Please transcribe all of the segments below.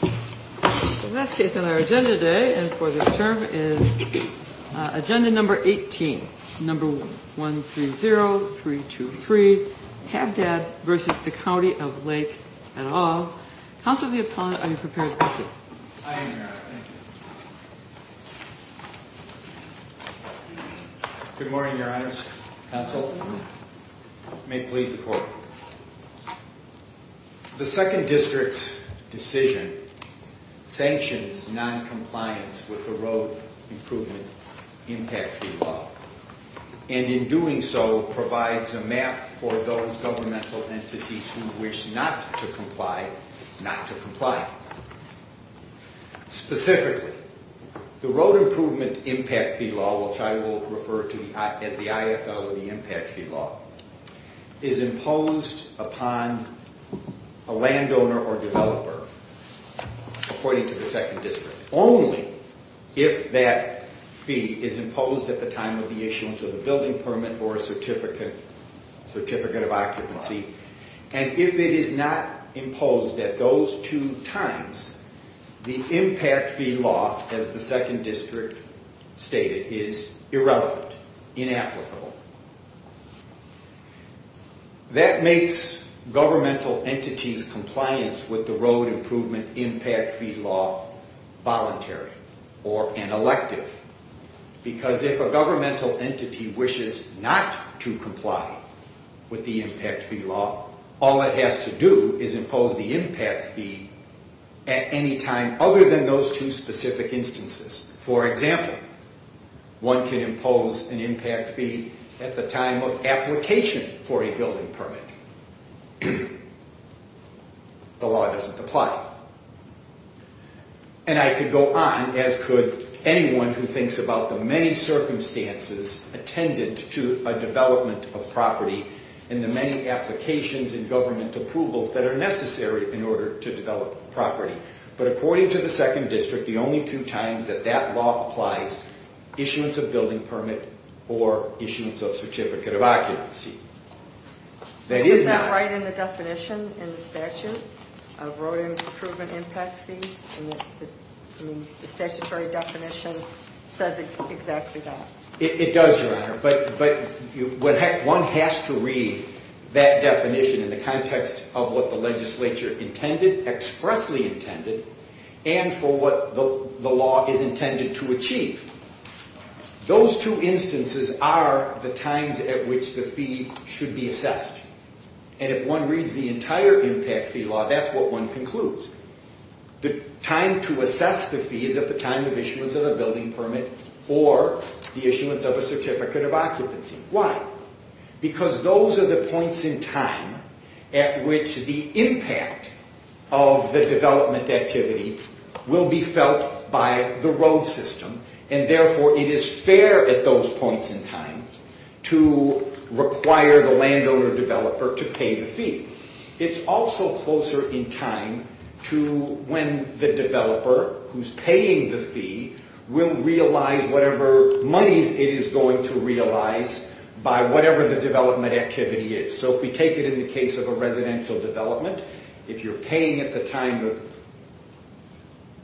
The last case on our agenda today and for this term is agenda number 18, number 130323, Habdad v. County of Lake, et al. Counselor Leopold, are you prepared to proceed? I am, Your Honor. Thank you. Good morning, Your Honors. Counsel, may it please the Court. The Second District's decision sanctions noncompliance with the Road Improvement Impact Fee Law and in doing so provides a map for those governmental entities who wish not to comply, not to comply. Specifically, the Road Improvement Impact Fee Law, which I will refer to as the IFL or the Impact Fee Law, is imposed upon a landowner or developer, according to the Second District, only if that fee is imposed at the time of the issuance of a building permit or a certificate of occupancy. And if it is not imposed at those two times, the Impact Fee Law, as the Second District stated, is irrelevant, inapplicable. That makes governmental entities' compliance with the Road Improvement Impact Fee Law voluntary or an elective. Because if a governmental entity wishes not to comply with the Impact Fee Law, all it has to do is impose the Impact Fee at any time other than those two specific instances. For example, one can impose an Impact Fee at the time of application for a building permit. The law doesn't apply. And I could go on, as could anyone who thinks about the many circumstances attendant to a development of property and the many applications and government approvals that are necessary in order to develop property. But according to the Second District, the only two times that that law applies, issuance of building permit or issuance of certificate of occupancy. Is that right in the definition in the statute of Road Improvement Impact Fee? The statutory definition says exactly that. It does, Your Honor, but one has to read that definition in the context of what the legislature intended, expressly intended, and for what the law is intended to achieve. Those two instances are the times at which the fee should be assessed. And if one reads the entire Impact Fee Law, that's what one concludes. The time to assess the fee is at the time of issuance of a building permit or the issuance of a certificate of occupancy. Why? Because those are the points in time at which the impact of the development activity will be felt by the road system. And therefore, it is fair at those points in time to require the landowner developer to pay the fee. It's also closer in time to when the developer who's paying the fee will realize whatever monies it is going to realize by whatever the development activity is. So if we take it in the case of a residential development, if you're paying at the time of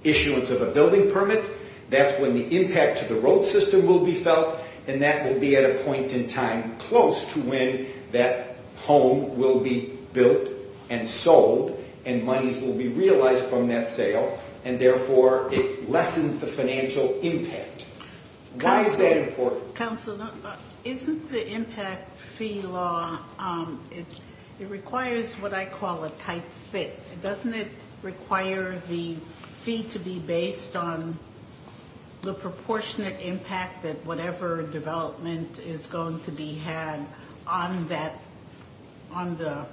issuance of a building permit, that's when the impact to the road system will be felt. And that will be at a point in time close to when that home will be built and sold and monies will be realized from that sale. And therefore, it lessens the financial impact. Why is that important? Isn't the impact fee law, it requires what I call a tight fit. Doesn't it require the fee to be based on the proportionate impact that whatever development is going to be had on the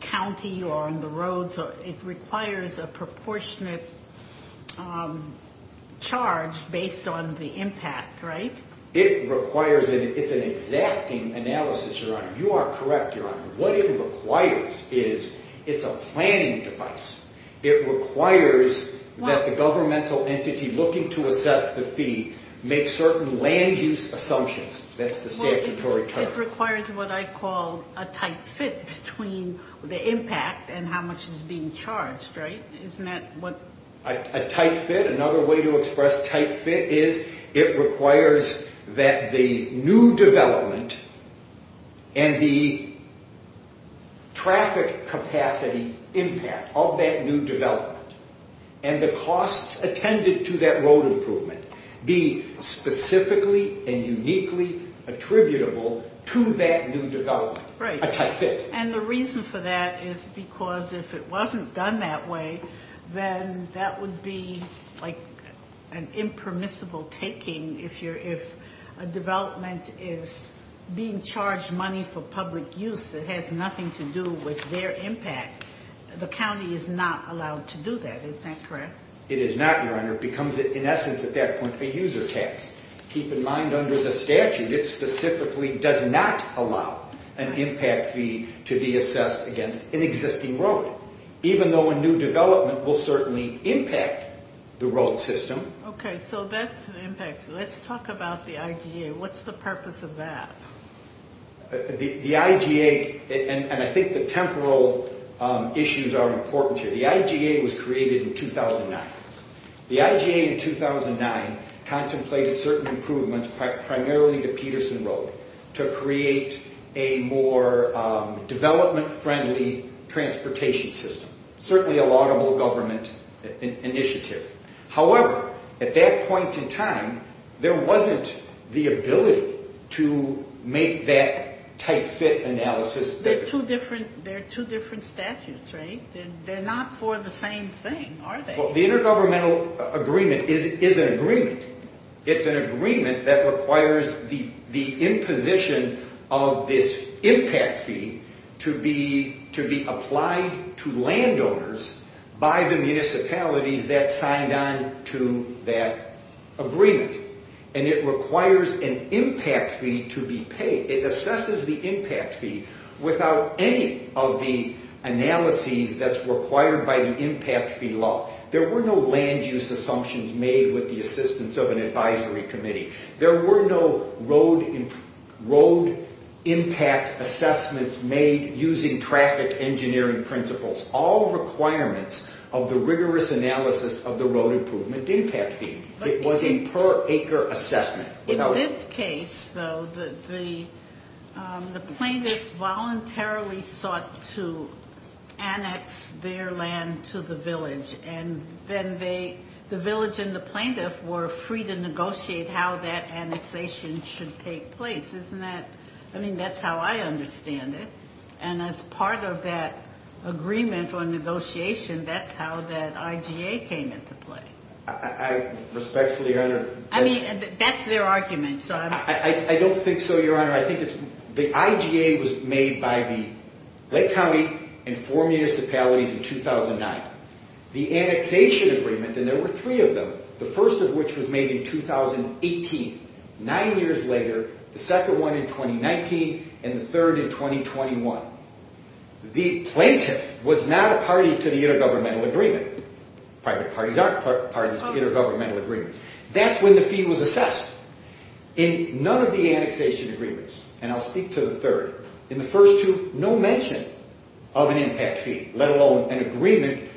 county or on the roads? It requires a proportionate charge based on the impact, right? It's an exacting analysis, Your Honor. You are correct, Your Honor. What it requires is it's a planning device. It requires that the governmental entity looking to assess the fee make certain land use assumptions. That's the statutory term. It requires what I call a tight fit between the impact and how much is being charged, right? A tight fit. Another way to express tight fit is it requires that the new development and the traffic capacity impact of that new development and the costs attended to that road improvement be specifically and uniquely attributable to that new development. A tight fit. And the reason for that is because if it wasn't done that way, then that would be like an impermissible taking if a development is being charged money for public use that has nothing to do with their impact. The county is not allowed to do that. Is that correct? It is not, Your Honor. It becomes, in essence, at that point, a user tax. Keep in mind under the statute, it specifically does not allow an impact fee to be assessed against an existing road, even though a new development will certainly impact the road system. Okay, so that's an impact. Let's talk about the IGA. What's the purpose of that? The IGA, and I think the temporal issues are important here. The IGA was created in 2009. The IGA in 2009 contemplated certain improvements primarily to Peterson Road to create a more development-friendly transportation system, certainly a laudable government initiative. However, at that point in time, there wasn't the ability to make that tight fit analysis. They're two different statutes, right? They're not for the same thing, are they? The Intergovernmental Agreement is an agreement. It's an agreement that requires the imposition of this impact fee to be applied to landowners by the municipalities that signed on to that agreement. And it requires an impact fee to be paid. It assesses the impact fee without any of the analyses that's required by the impact fee law. There were no land use assumptions made with the assistance of an advisory committee. There were no road impact assessments made using traffic engineering principles. All requirements of the rigorous analysis of the road improvement impact fee. It was a per acre assessment. In this case, though, the plaintiffs voluntarily sought to annex their land to the village. And then the village and the plaintiff were free to negotiate how that annexation should take place. Isn't that? I mean, that's how I understand it. And as part of that agreement on negotiation, that's how that IGA came into play. I respectfully under- I mean, that's their argument. I don't think so, Your Honor. The IGA was made by the Lake County and four municipalities in 2009. The annexation agreement, and there were three of them, the first of which was made in 2018. Nine years later, the second one in 2019, and the third in 2021. The plaintiff was not a party to the Intergovernmental Agreement. Private parties aren't parties to Intergovernmental Agreements. That's when the fee was assessed. In none of the annexation agreements, and I'll speak to the third. In the first two, no mention of an impact fee, let alone an agreement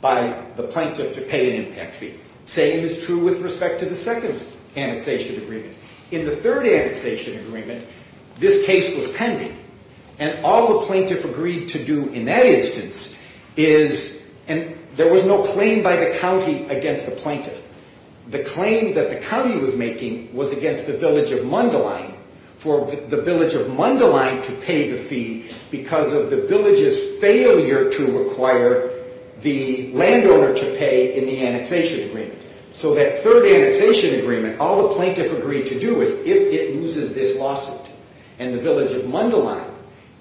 by the plaintiff to pay an impact fee. Same is true with respect to the second annexation agreement. In the third annexation agreement, this case was pending. And all the plaintiff agreed to do in that instance is, and there was no claim by the county against the plaintiff. The claim that the county was making was against the village of Mundelein, for the village of Mundelein to pay the fee, because of the village's failure to require the landowner to pay in the annexation agreement. So that third annexation agreement, all the plaintiff agreed to do is, if it loses this lawsuit, and the village of Mundelein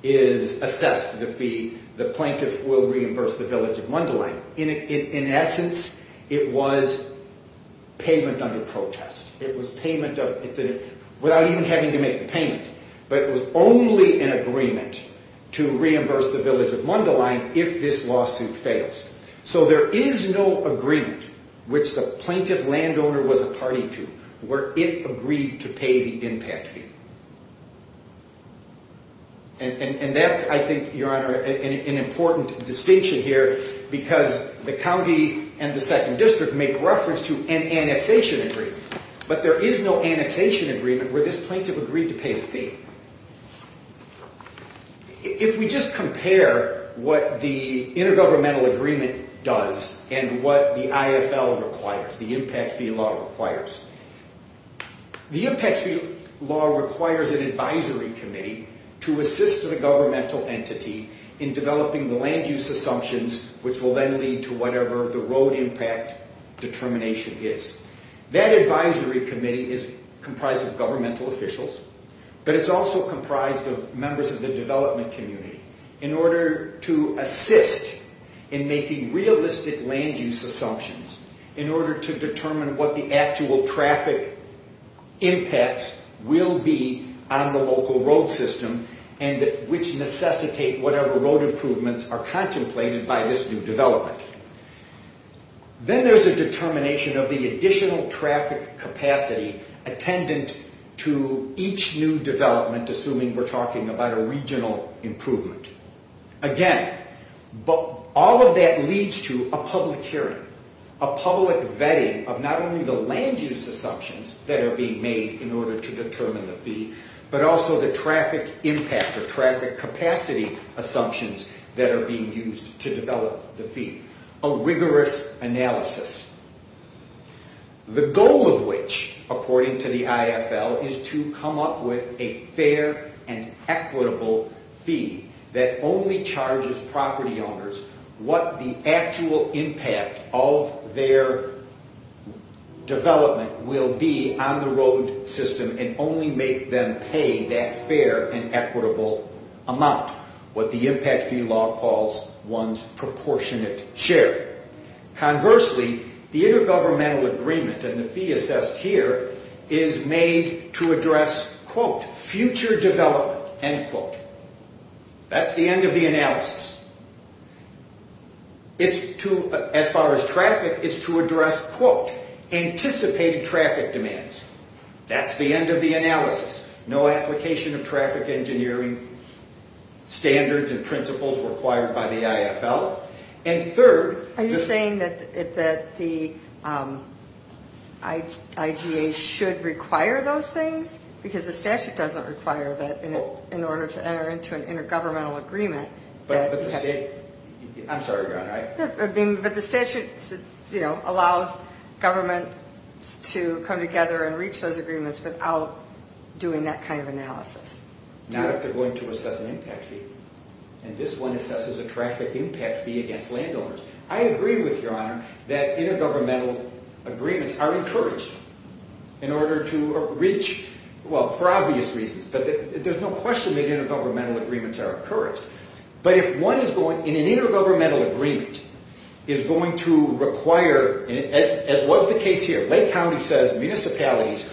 is assessed the fee, the plaintiff will reimburse the village of Mundelein. In essence, it was payment under protest. It was payment without even having to make the payment. But it was only an agreement to reimburse the village of Mundelein if this lawsuit fails. So there is no agreement, which the plaintiff landowner was a party to, where it agreed to pay the impact fee. And that's, I think, Your Honor, an important distinction here, because the county and the second district make reference to an annexation agreement. But there is no annexation agreement where this plaintiff agreed to pay the fee. If we just compare what the intergovernmental agreement does and what the IFL requires, the impact fee law requires, the impact fee law requires an advisory committee to assist the governmental entity in developing the land use assumptions, which will then lead to whatever the road impact determination is. That advisory committee is comprised of governmental officials, but it's also comprised of members of the development community, in order to assist in making realistic land use assumptions, in order to determine what the actual traffic impacts will be on the local road system, and which necessitate whatever road improvements are contemplated by this new development. Then there's a determination of the additional traffic capacity attendant to each new development, assuming we're talking about a regional improvement. Again, all of that leads to a public hearing, a public vetting of not only the land use assumptions that are being made in order to determine the fee, but also the traffic impact or traffic capacity assumptions that are being used to develop the fee. A rigorous analysis. The goal of which, according to the IFL, is to come up with a fair and equitable fee that only charges property owners what the actual impact of their development will be on the road system and only make them pay that fair and equitable amount, what the impact fee law calls one's proportionate share. Conversely, the intergovernmental agreement, and the fee assessed here, is made to address, quote, future development, end quote. That's the end of the analysis. As far as traffic, it's to address, quote, anticipated traffic demands. That's the end of the analysis. No application of traffic engineering standards and principles required by the IFL. And third... Are you saying that the IGA should require those things? Because the statute doesn't require that in order to enter into an intergovernmental agreement. But the state... I'm sorry, go ahead. But the statute allows governments to come together and reach those agreements without doing that kind of analysis. Not if they're going to assess an impact fee. And this one assesses a traffic impact fee against landowners. I agree with Your Honor that intergovernmental agreements are encouraged in order to reach... well, for obvious reasons. But there's no question that intergovernmental agreements are encouraged. But if one is going... and an intergovernmental agreement is going to require... as was the case here, Lake County says municipalities,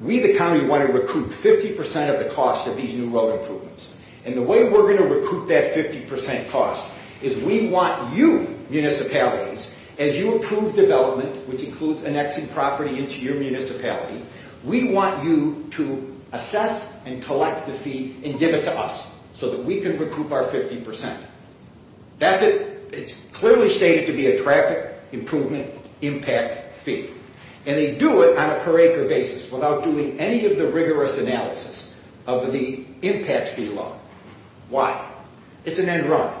we the county want to recruit 50% of the cost of these new road improvements. And the way we're going to recruit that 50% cost is we want you municipalities, as you approve development, which includes annexing property into your municipality, we want you to assess and collect the fee and give it to us so that we can recruit our 50%. That's it. It's clearly stated to be a traffic improvement impact fee. And they do it on a per acre basis without doing any of the rigorous analysis of the impact fee law. Why? It's an end run.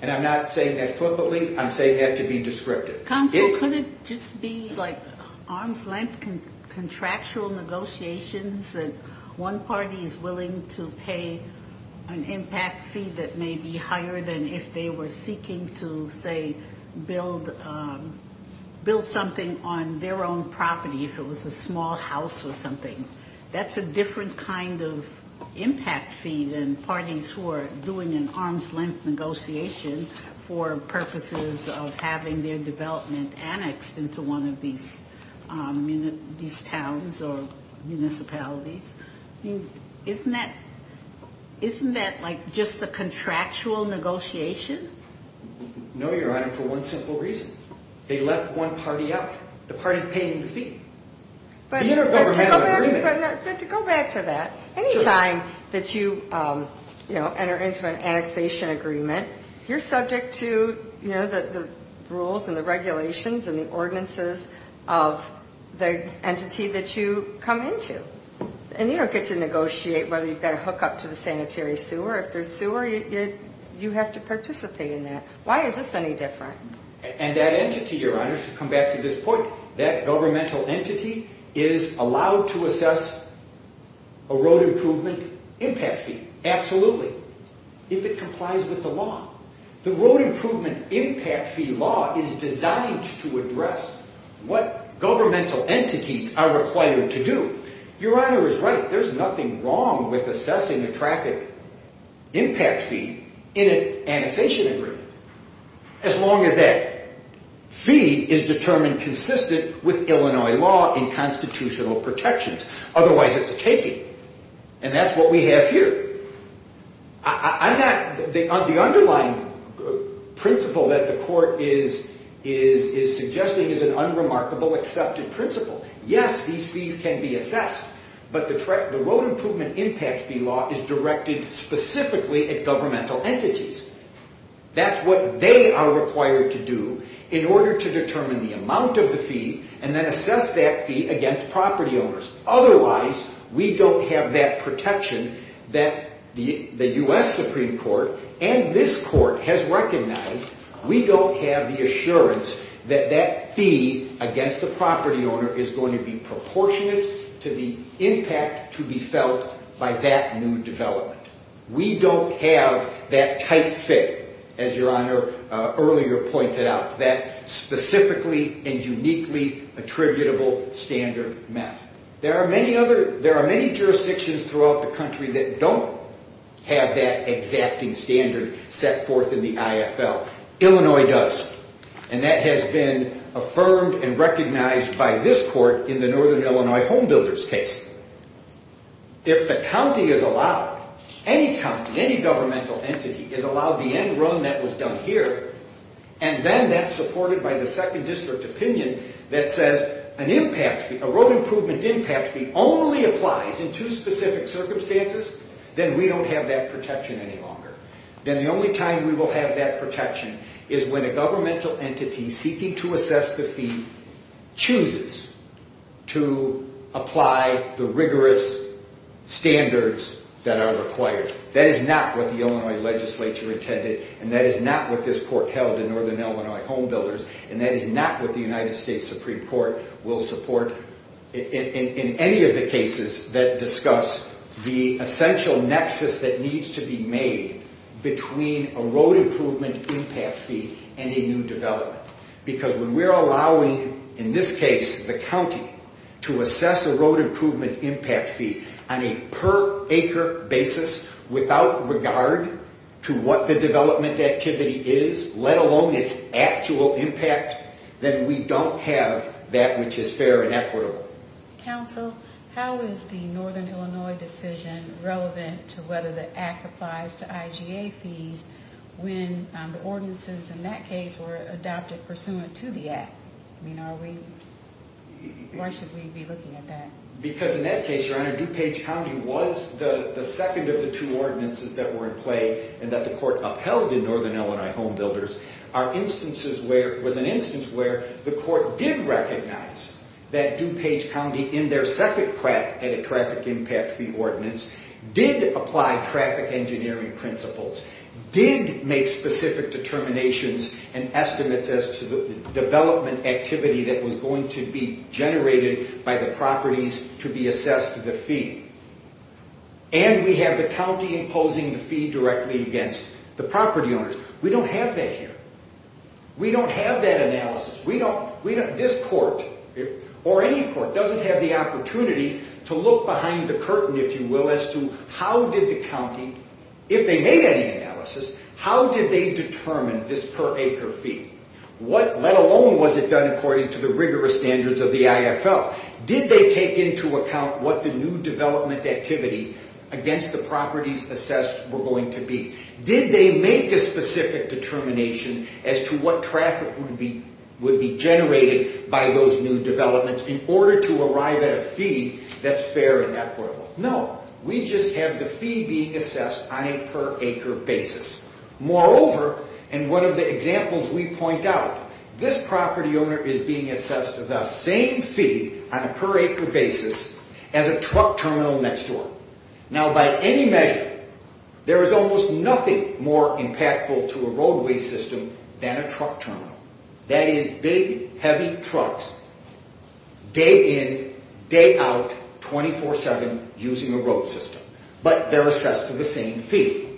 And I'm not saying that flippantly. I'm saying that to be descriptive. Counsel, couldn't it just be like arm's length contractual negotiations that one party is willing to pay an impact fee that may be higher than if they were seeking to, say, build something on their own property if it was a small house or something? That's a different kind of impact fee than parties who are doing an arm's length negotiation for purposes of having their development annexed into one of these towns or municipalities. Isn't that like just a contractual negotiation? No, Your Honor, for one simple reason. They let one party out, the party paying the fee. But to go back to that, any time that you enter into an annexation agreement, you're subject to the rules and the regulations and the ordinances of the entity that you come into. And you don't get to negotiate whether you've got a hookup to the sanitary sewer. If there's sewer, you have to participate in that. Why is this any different? And that entity, Your Honor, to come back to this point, that governmental entity is allowed to assess a road improvement impact fee, absolutely, if it complies with the law. The road improvement impact fee law is designed to address what governmental entities are required to do. Your Honor is right. There's nothing wrong with assessing a traffic impact fee in an annexation agreement as long as that fee is determined consistent with Illinois law and constitutional protections. Otherwise, it's a taking. And that's what we have here. The underlying principle that the court is suggesting is an unremarkable accepted principle. Yes, these fees can be assessed. But the road improvement impact fee law is directed specifically at governmental entities. That's what they are required to do in order to determine the amount of the fee and then assess that fee against property owners. Otherwise, we don't have that protection that the U.S. Supreme Court and this court has recognized. We don't have the assurance that that fee against the property owner is going to be proportionate to the impact to be felt by that new development. We don't have that type fit, as Your Honor earlier pointed out, that specifically and uniquely attributable standard map. There are many jurisdictions throughout the country that don't have that exacting standard set forth in the IFL. Illinois does. And that has been affirmed and recognized by this court in the Northern Illinois Homebuilders case. If the county is allowed, any county, any governmental entity is allowed the end run that was done here, and then that's supported by the second district opinion that says an impact fee, a road improvement impact fee only applies in two specific circumstances, then we don't have that protection any longer. Then the only time we will have that protection is when a governmental entity seeking to assess the fee chooses to apply the rigorous standards that are required. That is not what the Illinois legislature intended, and that is not what this court held in Northern Illinois Homebuilders, and that is not what the United States Supreme Court will support in any of the cases that discuss the essential nexus that needs to be made between a road improvement impact fee and a new development. Because when we're allowing, in this case, the county to assess a road improvement impact fee on a per acre basis without regard to what the development activity is, let alone its actual impact, then we don't have that which is fair and equitable. Counsel, how is the Northern Illinois decision relevant to whether the act applies to IGA fees when the ordinances in that case were adopted pursuant to the act? I mean, why should we be looking at that? Because in that case, Your Honor, DuPage County was the second of the two ordinances that were in play and that the court upheld in Northern Illinois Homebuilders, was an instance where the court did recognize that DuPage County, in their second traffic impact fee ordinance, did apply traffic engineering principles, did make specific determinations and estimates as to the development activity that was going to be generated by the properties to be assessed the fee. And we have the county imposing the fee directly against the property owners. We don't have that here. We don't have that analysis. This court, or any court, doesn't have the opportunity to look behind the curtain, if you will, as to how did the county, if they made any analysis, how did they determine this per acre fee? What, let alone, was it done according to the rigorous standards of the IFL? Did they take into account what the new development activity against the properties assessed were going to be? Did they make a specific determination as to what traffic would be generated by those new developments in order to arrive at a fee that's fair and equitable? No, we just have the fee being assessed on a per acre basis. Moreover, and one of the examples we point out, this property owner is being assessed the same fee on a per acre basis as a truck terminal next door. Now, by any measure, there is almost nothing more impactful to a roadway system than a truck terminal. That is big, heavy trucks, day in, day out, 24-7, using a road system. But they're assessed to the same fee.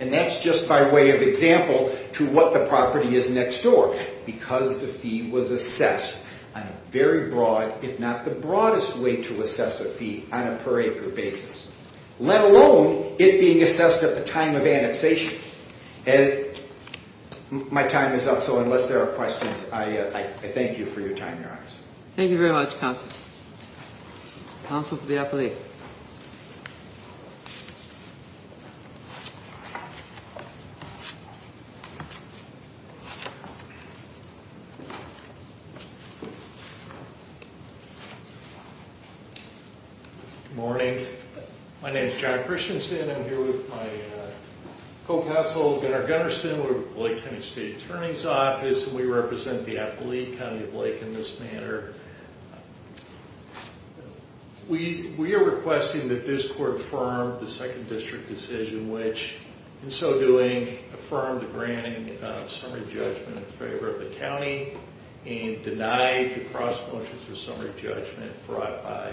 And that's just by way of example to what the property is next door. Because the fee was assessed on a very broad, if not the broadest way to assess a fee, on a per acre basis. Let alone it being assessed at the time of annexation. My time is up, so unless there are questions, I thank you for your time, Your Honor. Thank you very much, Counsel. Counsel for the appellee. Good morning. My name is Jack Christensen. I'm here with my co-counsel, Gunnar Gunnarsson, with the Lake County State Attorney's Office. We represent the Appalachian County of Lake in this manner. We are requesting that this court affirm the second district decision which, in so doing, affirmed the granting of summary judgment in favor of the county. And denied the cross motions for summary judgment brought by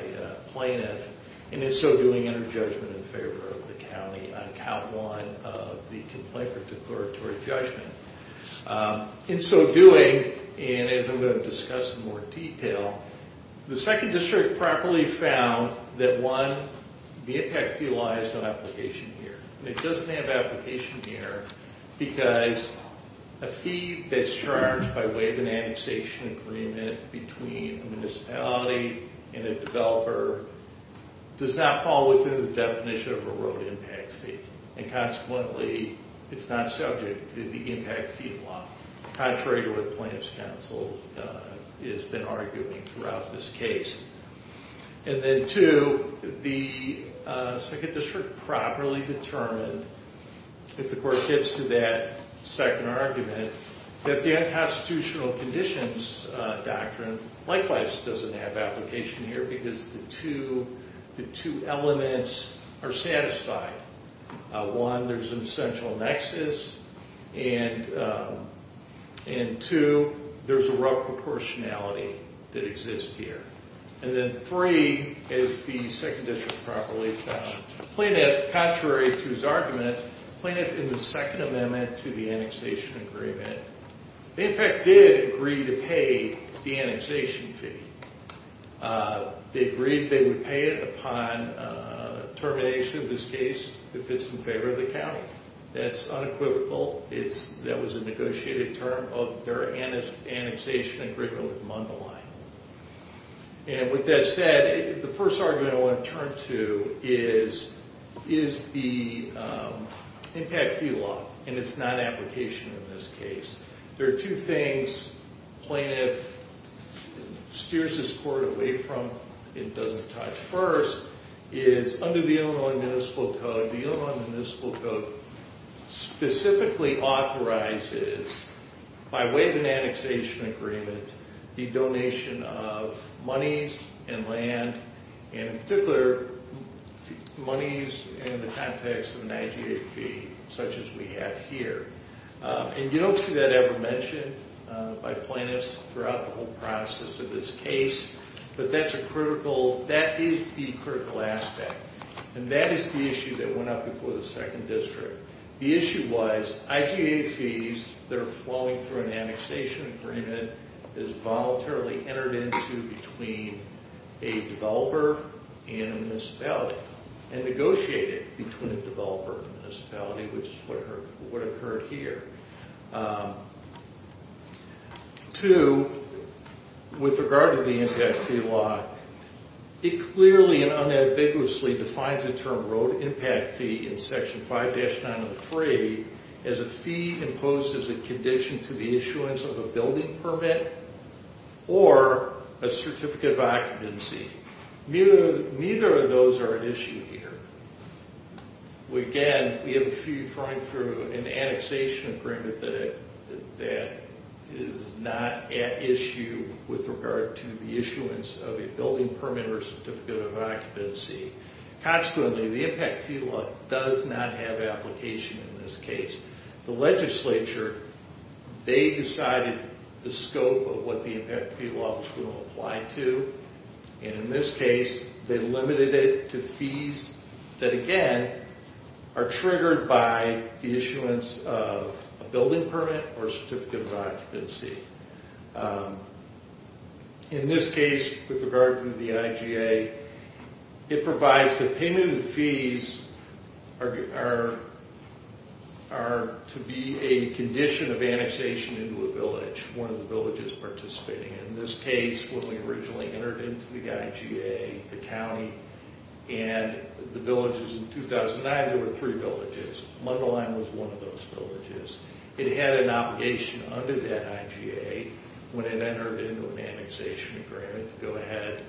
plaintiffs. And in so doing, entered judgment in favor of the county on count one of the complaint for declaratory judgment. In so doing, and as I'm going to discuss in more detail, the second district properly found that one, the impact fee lies on application here. And it doesn't have application here because a fee that's charged by way of an annexation agreement between a municipality and a developer does not fall within the definition of a road impact fee. And consequently, it's not subject to the impact fee law. Contrary to what the plaintiff's counsel has been arguing throughout this case. And then two, the second district properly determined, if the court gets to that second argument, that the unconstitutional conditions doctrine likewise doesn't have application here. Because the two elements are satisfied. One, there's an essential nexus. And two, there's a rough proportionality that exists here. And then three, is the second district properly found. Plaintiff, contrary to his arguments, plaintiff in the second amendment to the annexation agreement, in fact did agree to pay the annexation fee. They agreed they would pay it upon termination of this case if it's in favor of the county. That's unequivocal. That was a negotiated term of their annexation agreement with Mundelein. And with that said, the first argument I want to turn to is the impact fee law. And it's not application in this case. There are two things plaintiff steers this court away from, it doesn't touch. First, is under the Illinois Municipal Code, the Illinois Municipal Code specifically authorizes, by way of an annexation agreement, the donation of monies and land. And in particular, monies in the context of an IGA fee, such as we have here. And you don't see that ever mentioned by plaintiffs throughout the whole process of this case. But that's a critical, that is the critical aspect. And that is the issue that went up before the second district. The issue was, IGA fees that are flowing through an annexation agreement is voluntarily entered into between a developer and a municipality. And negotiated between a developer and a municipality, which is what occurred here. Two, with regard to the impact fee law, it clearly and unambiguously defines the term road impact fee in section 5-903 as a fee imposed as a condition to the issuance of a building permit or a certificate of occupancy. Neither of those are an issue here. Again, we have a fee flowing through an annexation agreement that is not at issue with regard to the issuance of a building permit or certificate of occupancy. Consequently, the impact fee law does not have application in this case. The legislature, they decided the scope of what the impact fee law was going to apply to. And in this case, they limited it to fees that, again, are triggered by the issuance of a building permit or certificate of occupancy. In this case, with regard to the IGA, it provides that payment of fees are to be a condition of annexation into a village, one of the villages participating. In this case, when we originally entered into the IGA, the county, and the villages in 2009, there were three villages. Mundelein was one of those villages. It had an obligation under that IGA when it entered into an annexation agreement to go ahead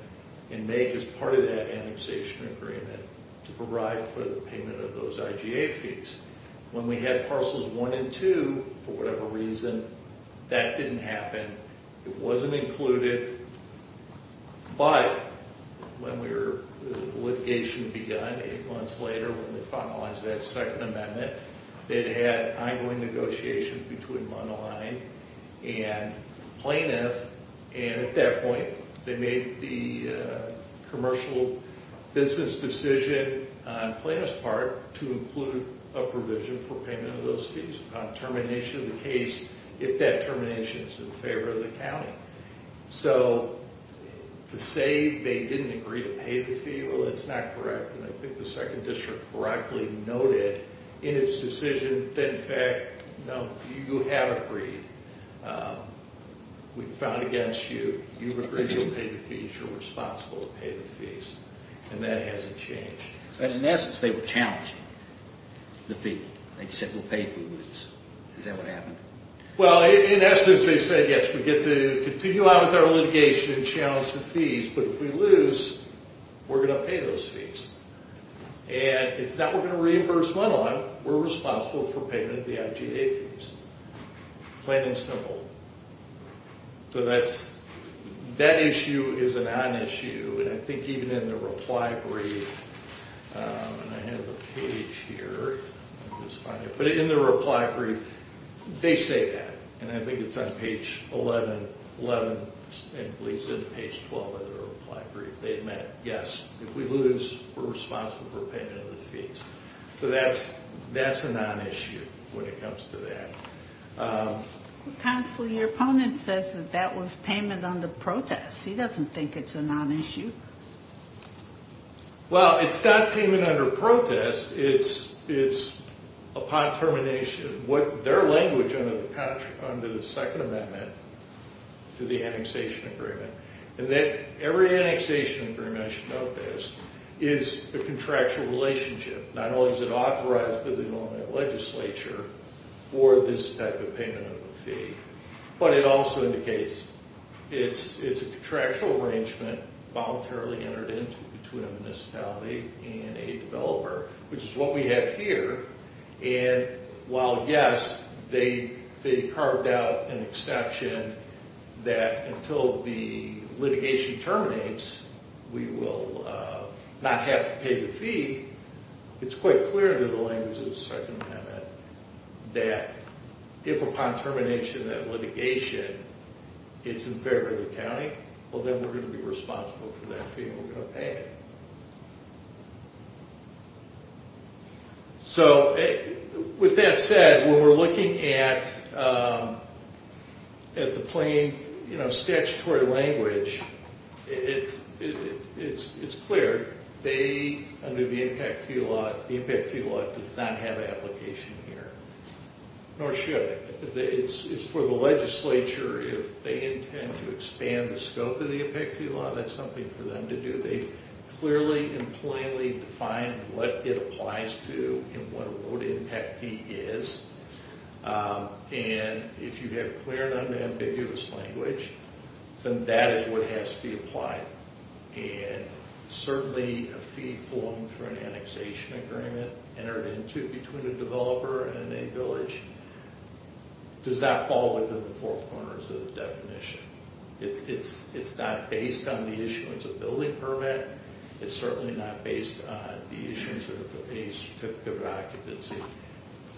and make as part of that annexation agreement to provide for the payment of those IGA fees. When we had parcels one and two, for whatever reason, that didn't happen. It wasn't included, but when litigation began eight months later, when they finalized that second amendment, they'd had ongoing negotiations between Mundelein and Plaintiff. And at that point, they made the commercial business decision on Plaintiff's part to include a provision for payment of those fees. Upon termination of the case, if that termination is in favor of the county. So to say they didn't agree to pay the fee, well, that's not correct. And I think the second district correctly noted in its decision that, in fact, no, you have agreed. We've fought against you. You've agreed you'll pay the fees. You're responsible to pay the fees. And that hasn't changed. But in essence, they were challenging the fee. They said we'll pay if we lose. Is that what happened? Well, in essence, they said, yes, we get to continue on with our litigation and challenge the fees. But if we lose, we're going to pay those fees. And it's not we're going to reimburse Mundelein. We're responsible for payment of the IGA fees. Plain and simple. So that issue is a nonissue. And I think even in the reply brief, and I have a page here. But in the reply brief, they say that. And I think it's on page 11, and it leads into page 12 of the reply brief. They admit, yes, if we lose, we're responsible for payment of the fees. So that's a nonissue when it comes to that. Counselor, your opponent says that that was payment under protest. He doesn't think it's a nonissue. Well, it's not payment under protest. It's upon termination. Their language under the Second Amendment to the annexation agreement. And every annexation agreement, I should note this, is a contractual relationship. Not only is it authorized by the Illinois legislature for this type of payment of the fee. But it also indicates it's a contractual arrangement voluntarily entered into between a municipality and a developer. Which is what we have here. And while, yes, they carved out an exception that until the litigation terminates, we will not have to pay the fee. It's quite clear under the language of the Second Amendment that if upon termination that litigation is in favor of the county, well then we're going to be responsible for that fee and we're going to pay it. So with that said, when we're looking at the plain statutory language, it's clear. They, under the Impact Fee Law, the Impact Fee Law does not have an application here. Nor should. It's for the legislature, if they intend to expand the scope of the Impact Fee Law, that's something for them to do. They've clearly and plainly defined what it applies to and what a road impact fee is. And if you have clear and unambiguous language, then that is what has to be applied. And certainly a fee formed through an annexation agreement entered into between a developer and a village does not fall within the four corners of the definition. It's not based on the issuance of a building permit. It's certainly not based on the issuance of a certificate of occupancy.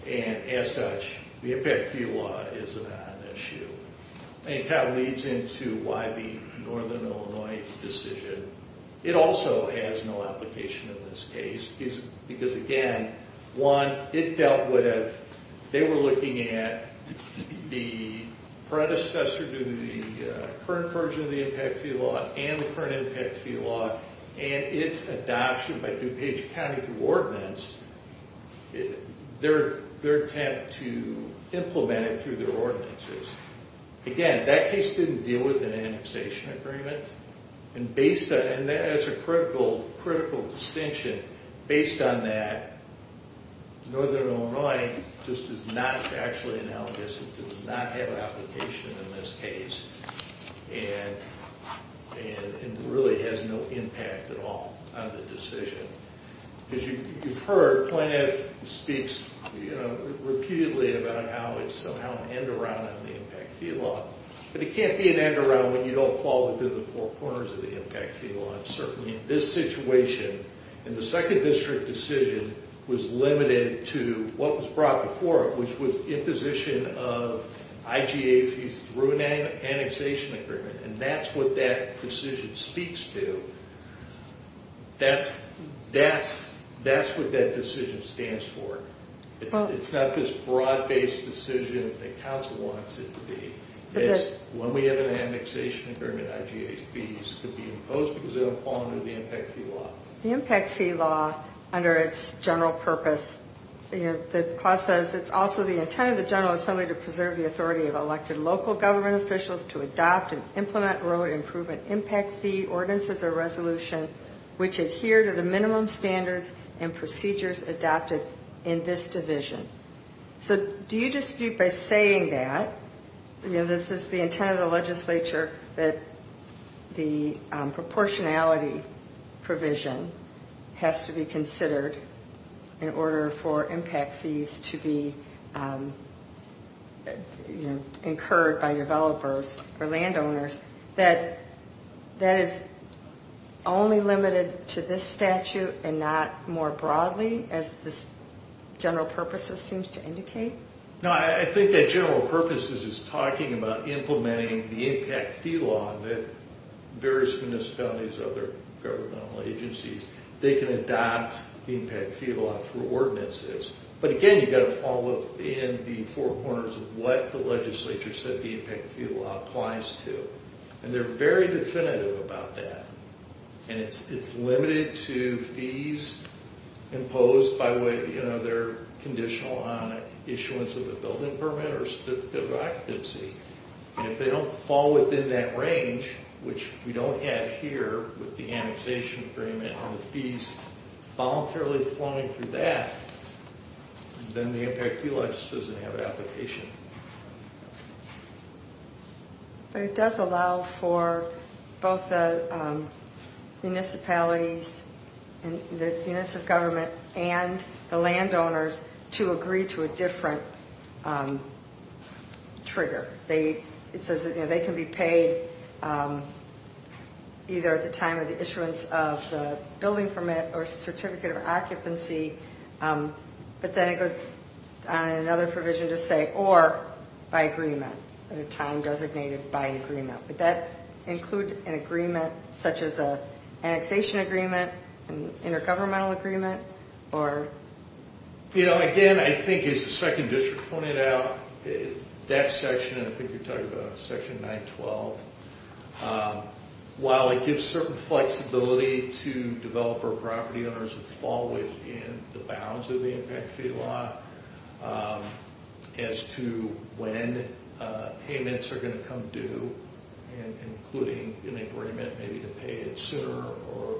And as such, the Impact Fee Law is not an issue. And that leads into why the Northern Illinois decision, it also has no application in this case. Because again, one, it dealt with, they were looking at the predecessor to the current version of the Impact Fee Law and the current Impact Fee Law and its adoption by DuPage County through ordinance, their attempt to implement it through their ordinances. Again, that case didn't deal with an annexation agreement. And as a critical distinction, based on that, Northern Illinois does not have an application in this case. And it really has no impact at all on the decision. As you've heard, Plaintiff speaks repeatedly about how it's somehow an end around on the Impact Fee Law. But it can't be an end around when you don't fall within the four corners of the Impact Fee Law. Certainly in this situation, and the second district decision was limited to what was brought before it, which was imposition of IGA fees through an annexation agreement. And that's what that decision speaks to. That's what that decision stands for. It's not this broad-based decision that council wants it to be. When we have an annexation agreement, IGA fees could be imposed because they don't fall under the Impact Fee Law. The Impact Fee Law, under its general purpose, the clause says, it's also the intent of the General Assembly to preserve the authority of elected local government officials to adopt and implement road improvement impact fee ordinances or resolution which adhere to the minimum standards and procedures adopted in this division. So do you dispute by saying that, this is the intent of the legislature, that the proportionality provision has to be considered in order for impact fees to be incurred by developers or landowners, that that is only limited to this statute and not more broadly, as this general purpose seems to indicate? No, I think that general purpose is talking about implementing the Impact Fee Law that various municipalities and other governmental agencies, they can adopt the Impact Fee Law for ordinances. But again, you've got to fall within the four corners of what the legislature said the Impact Fee Law applies to. And they're very definitive about that. And it's limited to fees imposed by whether they're conditional on issuance of a building permit or a certificate of occupancy. And if they don't fall within that range, which we don't have here with the annexation agreement, and the fees voluntarily flowing through that, then the Impact Fee Law just doesn't have an application. But it does allow for both the municipalities and the units of government and the landowners to agree to a different trigger. It says that they can be paid either at the time of the issuance of the building permit or certificate of occupancy. But then it goes on another provision to say, or by agreement, at a time designated by agreement. Would that include an agreement such as an annexation agreement, an intergovernmental agreement? Again, I think as the 2nd District pointed out, that section, I think you're talking about section 912, while it gives certain flexibility to developer property owners to fall within the bounds of the Impact Fee Law as to when payments are going to come due, including an agreement maybe to pay it sooner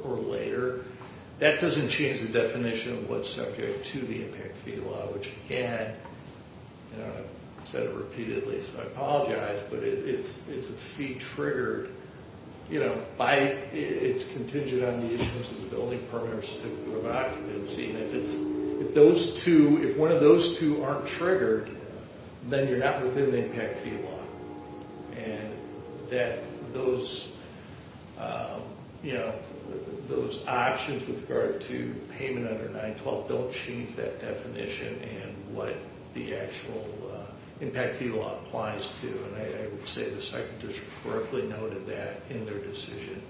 or later, that doesn't change the definition of what's subject to the Impact Fee Law, which again, I've said it repeatedly, so I apologize, but it's a fee triggered, it's contingent on the issuance of the building permit or certificate of occupancy. And if one of those two aren't triggered, then you're not within the Impact Fee Law. And that those, you know, those options with regard to payment under 912 don't change that definition and what the actual Impact Fee Law applies to, and I would say the 2nd District correctly noted that in their decision.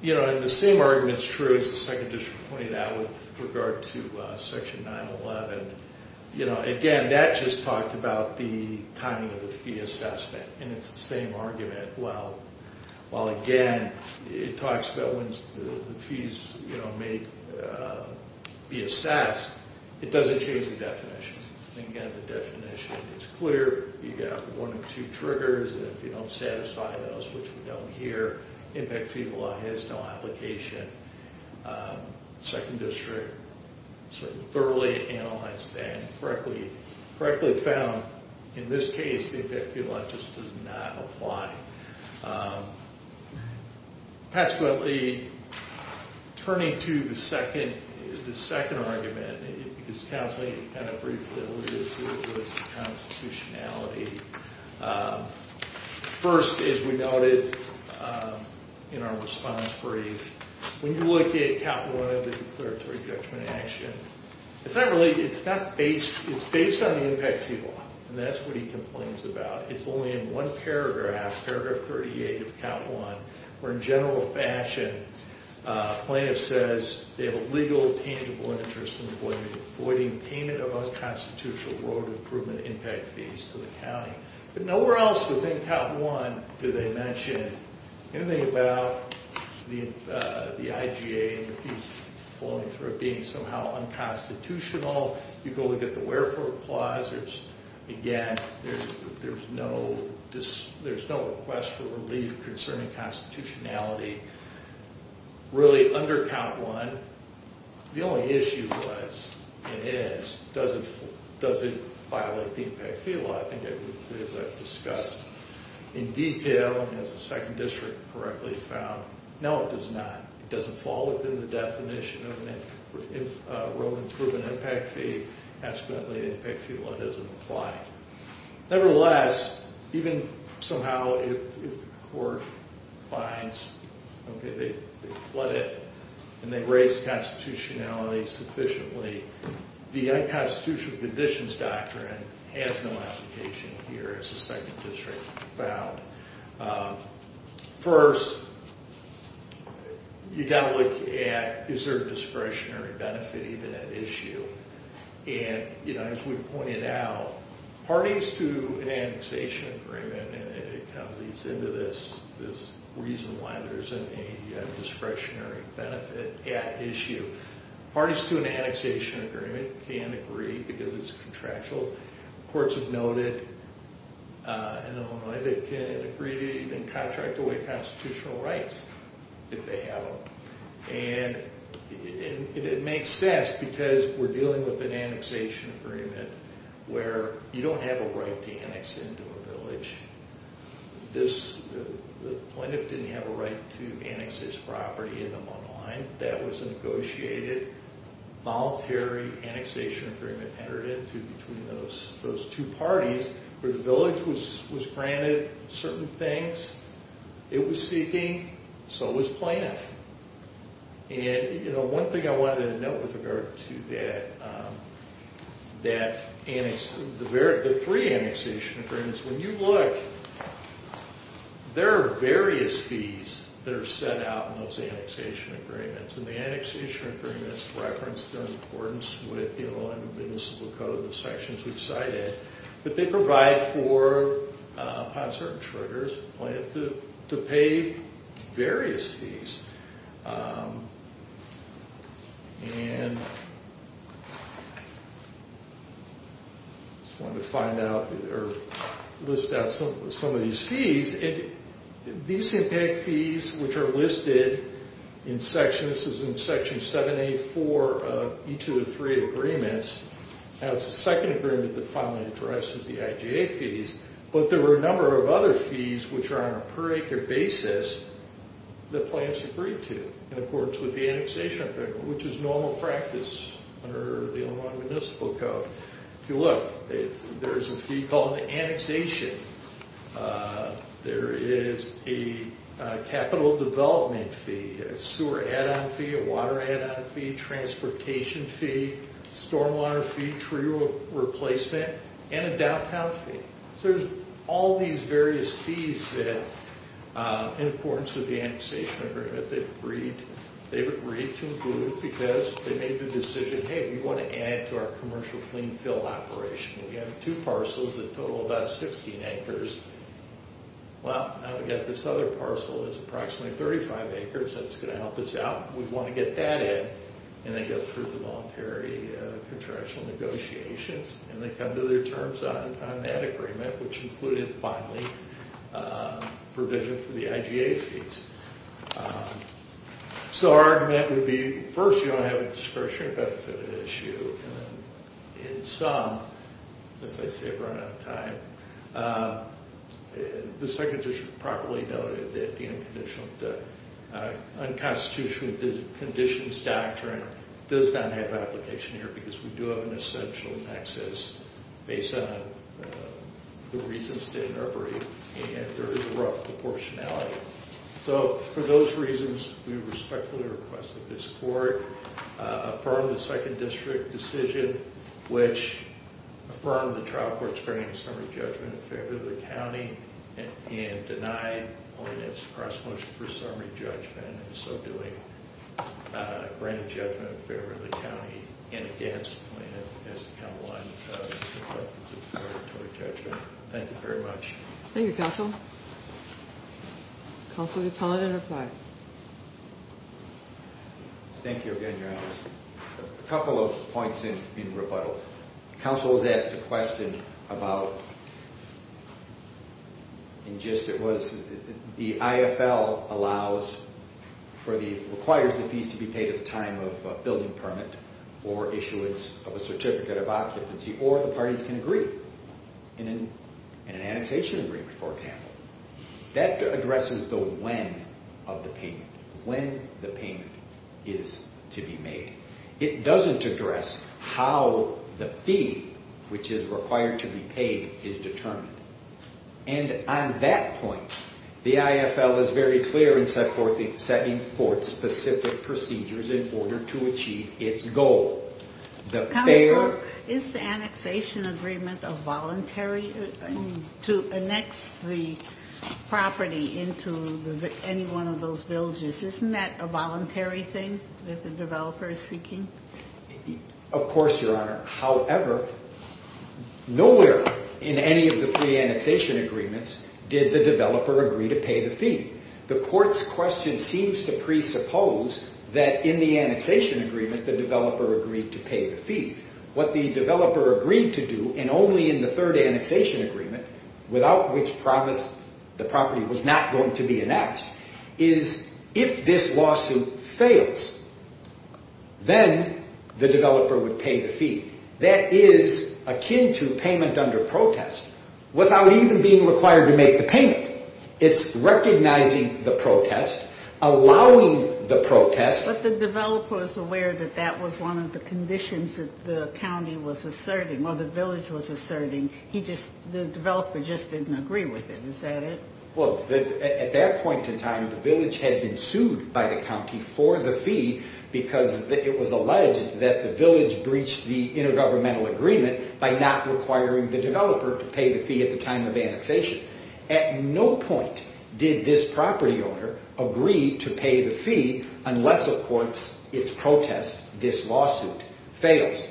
You know, and the same argument is true as the 2nd District pointed out with regard to section 911. You know, again, that just talked about the timing of the fee assessment, and it's the same argument, while again, it talks about when the fees, you know, may be assessed, it doesn't change the definition. Again, the definition is clear, you've got one or two triggers, and if you don't satisfy those, which we don't hear, Impact Fee Law has no application. 2nd District sort of thoroughly analyzed that and correctly found, in this case, the Impact Fee Law just does not apply. Consequently, turning to the 2nd argument, because Counseling kind of briefly alluded to it with its constitutionality. First, as we noted in our response brief, when you look at Chapter 1 of the Declaratory Judgment Action, it's not really, it's not based, it's based on the Impact Fee Law, and that's what he complains about. It's only in one paragraph, paragraph 38 of Count 1, where in general fashion, plaintiff says, they have a legal, tangible interest in avoiding payment of unconstitutional road improvement impact fees to the county. But nowhere else within Count 1 do they mention anything about the IGA and the fees flowing through it being somehow unconstitutional. You go look at the Wherefore Clause, again, there's no request for relief concerning constitutionality. Really, under Count 1, the only issue was, and is, does it violate the Impact Fee Law? I think, as I've discussed in detail, and as the 2nd District correctly found, no, it does not. It doesn't fall within the definition of road improvement impact fee. Accidentally, the Impact Fee Law doesn't apply. Nevertheless, even somehow, if the court finds, okay, they flood it and they raise constitutionality sufficiently, the Unconstitutional Conditions Doctrine has no application here, as the 2nd District found. First, you've got to look at, is there a discretionary benefit even at issue? And as we pointed out, parties to an annexation agreement, and it kind of leads into this, this reason why there isn't a discretionary benefit at issue. Parties to an annexation agreement can't agree because it's contractual. Courts have noted in Illinois they can't agree to even contract away constitutional rights if they have them. And it makes sense because we're dealing with an annexation agreement where you don't have a right to annex into a village. The plaintiff didn't have a right to annex his property in Illinois. That was a negotiated, voluntary annexation agreement entered into between those 2 parties where the village was granted certain things. It was seeking, so was plaintiff. And, you know, one thing I wanted to note with regard to that, that annex, the 3 annexation agreements, when you look, there are various fees that are set out in those annexation agreements. And the annexation agreements reference their importance with the Illinois Municipal Code, the sections we've cited. But they provide for, upon certain triggers, plaintiff to pay various fees. And I just wanted to find out, or list out some of these fees. These impact fees, which are listed in Section, this is in Section 784 of each of the 3 agreements. Now it's the second agreement that finally addresses the IJA fees. But there were a number of other fees which are on a per acre basis that plaintiffs agreed to. In accordance with the annexation agreement, which is normal practice under the Illinois Municipal Code. If you look, there's a fee called annexation. There is a capital development fee, a sewer add-on fee, a water add-on fee, transportation fee, stormwater fee, tree replacement, and a downtown fee. So there's all these various fees that, in accordance with the annexation agreement, they've agreed to include. Because they made the decision, hey, we want to add to our commercial clean field operation. We have two parcels that total about 16 acres. Well, now we've got this other parcel that's approximately 35 acres that's going to help us out. We want to get that in. And they go through the voluntary contractual negotiations. And they come to their terms on that agreement, which included, finally, provision for the IJA fees. So our argument would be, first, you don't have a discretionary benefit issue. And some, as I say, have run out of time. The second just properly noted that the unconstitutional conditions doctrine does not have application here. Because we do have an essential nexus based on the reasons stated in our brief. And there is a rough proportionality. So for those reasons, we respectfully request that this court affirm the second district decision, which affirmed the trial court's granting summary judgment in favor of the county, and denied O&S cross-motion for summary judgment, and so doing, granted judgment in favor of the county. And against the county line. Thank you very much. Thank you, Counsel. Counsel, you're permitted to reply. Thank you again, Your Honor. A couple of points in rebuttal. Counsel was asked a question about, in gist it was, the IFL requires the fees to be paid at the time of a building permit, or issuance of a certificate of occupancy, or the parties can agree in an annexation agreement, for example. That addresses the when of the payment. When the payment is to be made. It doesn't address how the fee, which is required to be paid, is determined. And on that point, the IFL is very clear in setting forth specific procedures in order to achieve its goal. Counsel, is the annexation agreement voluntary to annex the property into any one of those villages? Isn't that a voluntary thing that the developer is seeking? Of course, Your Honor. However, nowhere in any of the free annexation agreements did the developer agree to pay the fee. The court's question seems to presuppose that in the annexation agreement, the developer agreed to pay the fee. What the developer agreed to do, and only in the third annexation agreement, without which the property was not going to be annexed, is if this lawsuit fails, then the developer would pay the fee. That is akin to payment under protest, without even being required to make the payment. It's recognizing the protest, allowing the protest. But the developer is aware that that was one of the conditions that the county was asserting, or the village was asserting. The developer just didn't agree with it. Is that it? Well, at that point in time, the village had been sued by the county for the fee because it was alleged that the village breached the intergovernmental agreement by not requiring the developer to pay the fee at the time of annexation. At no point did this property owner agree to pay the fee unless, of course, its protest, this lawsuit, fails.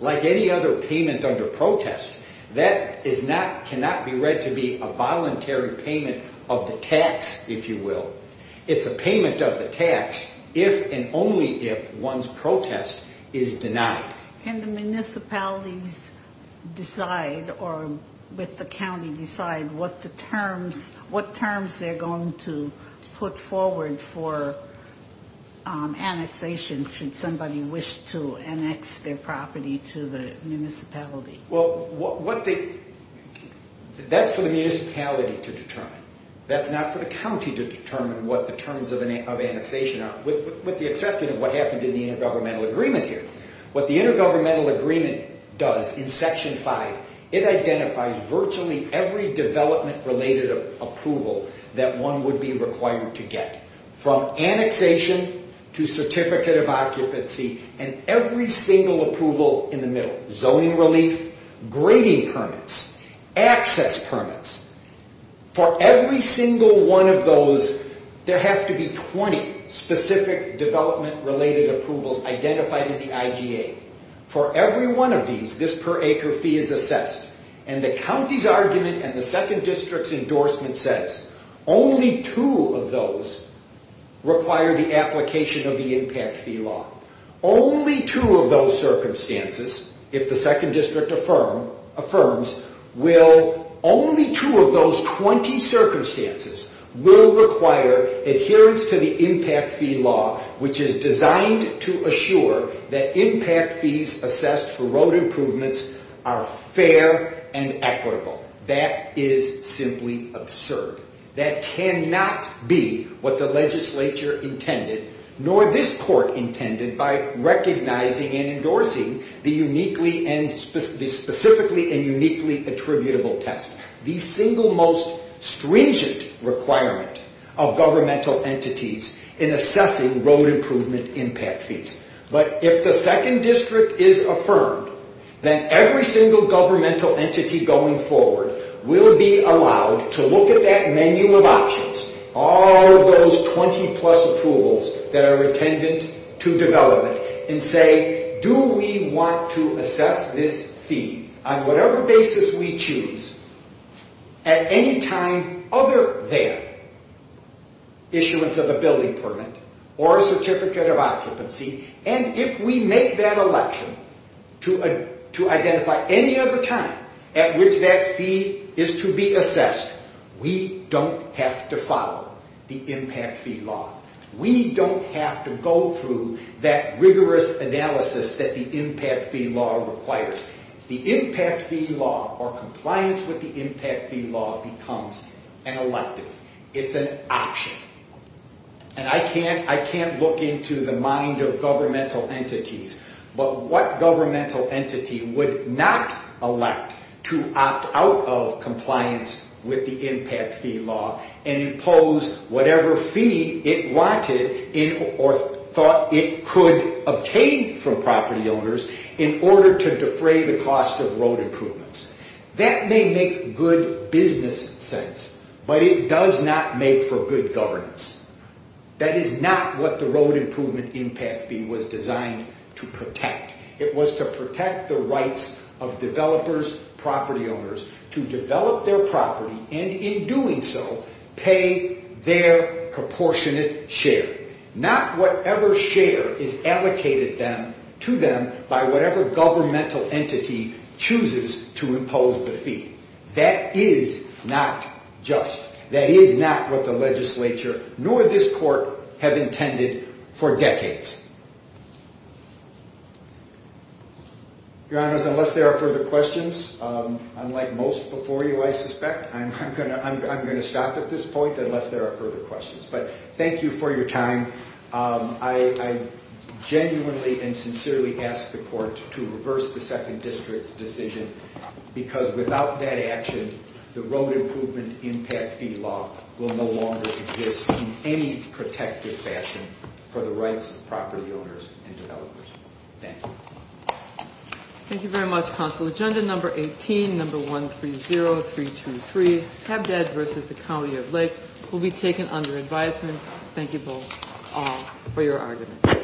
Like any other payment under protest, that cannot be read to be a voluntary payment of the tax, if you will. It's a payment of the tax if and only if one's protest is denied. Can the municipalities decide, or with the county decide, what terms they're going to put forward for annexation should somebody wish to annex their property to the municipality? Well, that's for the municipality to determine. That's not for the county to determine what the terms of annexation are, with the exception of what happened in the intergovernmental agreement here. What the intergovernmental agreement does in Section 5, it identifies virtually every development-related approval that one would be required to get, from annexation to certificate of occupancy and every single approval in the middle. Zoning relief, grading permits, access permits. For every single one of those, there have to be 20 specific development-related approvals identified in the IGA. For every one of these, this per-acre fee is assessed. And the county's argument and the 2nd District's endorsement says only two of those require the application of the Impact Fee Law. Only two of those circumstances, if the 2nd District affirms, only two of those 20 circumstances will require adherence to the Impact Fee Law, which is designed to assure that impact fees assessed for road improvements are fair and equitable. That is simply absurd. That cannot be what the legislature intended, nor this court intended, by recognizing and endorsing the uniquely and specifically and uniquely attributable test. The single most stringent requirement of governmental entities in assessing road improvement impact fees. But if the 2nd District is affirmed, then every single governmental entity going forward will be allowed to look at that menu of options, all of those 20-plus approvals that are attendant to development, and say, do we want to assess this fee on whatever basis we choose at any time other than issuance of a building permit or a certificate of occupancy? And if we make that election to identify any other time at which that fee is to be assessed, we don't have to follow the Impact Fee Law. We don't have to go through that rigorous analysis that the Impact Fee Law requires. The Impact Fee Law, or compliance with the Impact Fee Law, becomes an elective. It's an option. And I can't look into the mind of governmental entities, but what governmental entity would not elect to opt out of compliance with the Impact Fee Law and impose whatever fee it wanted or thought it could obtain from property owners in order to defray the cost of road improvements? That may make good business sense, but it does not make for good governance. That is not what the road improvement impact fee was designed to protect. It was to protect the rights of developers, property owners, to develop their property, and in doing so, pay their proportionate share. Not whatever share is allocated to them by whatever governmental entity chooses to impose the fee. That is not just. That is not what the legislature nor this court have intended for decades. Your Honors, unless there are further questions, unlike most before you I suspect, I'm going to stop at this point unless there are further questions. But thank you for your time. I genuinely and sincerely ask the court to reverse the Second District's decision because without that action, the road improvement impact fee law will no longer exist in any protective fashion for the rights of property owners and developers. Thank you. Thank you very much, Counsel. Agenda number 18, number 130323, Habdad v. The County of Lake, will be taken under advisement. Thank you both, all, for your arguments.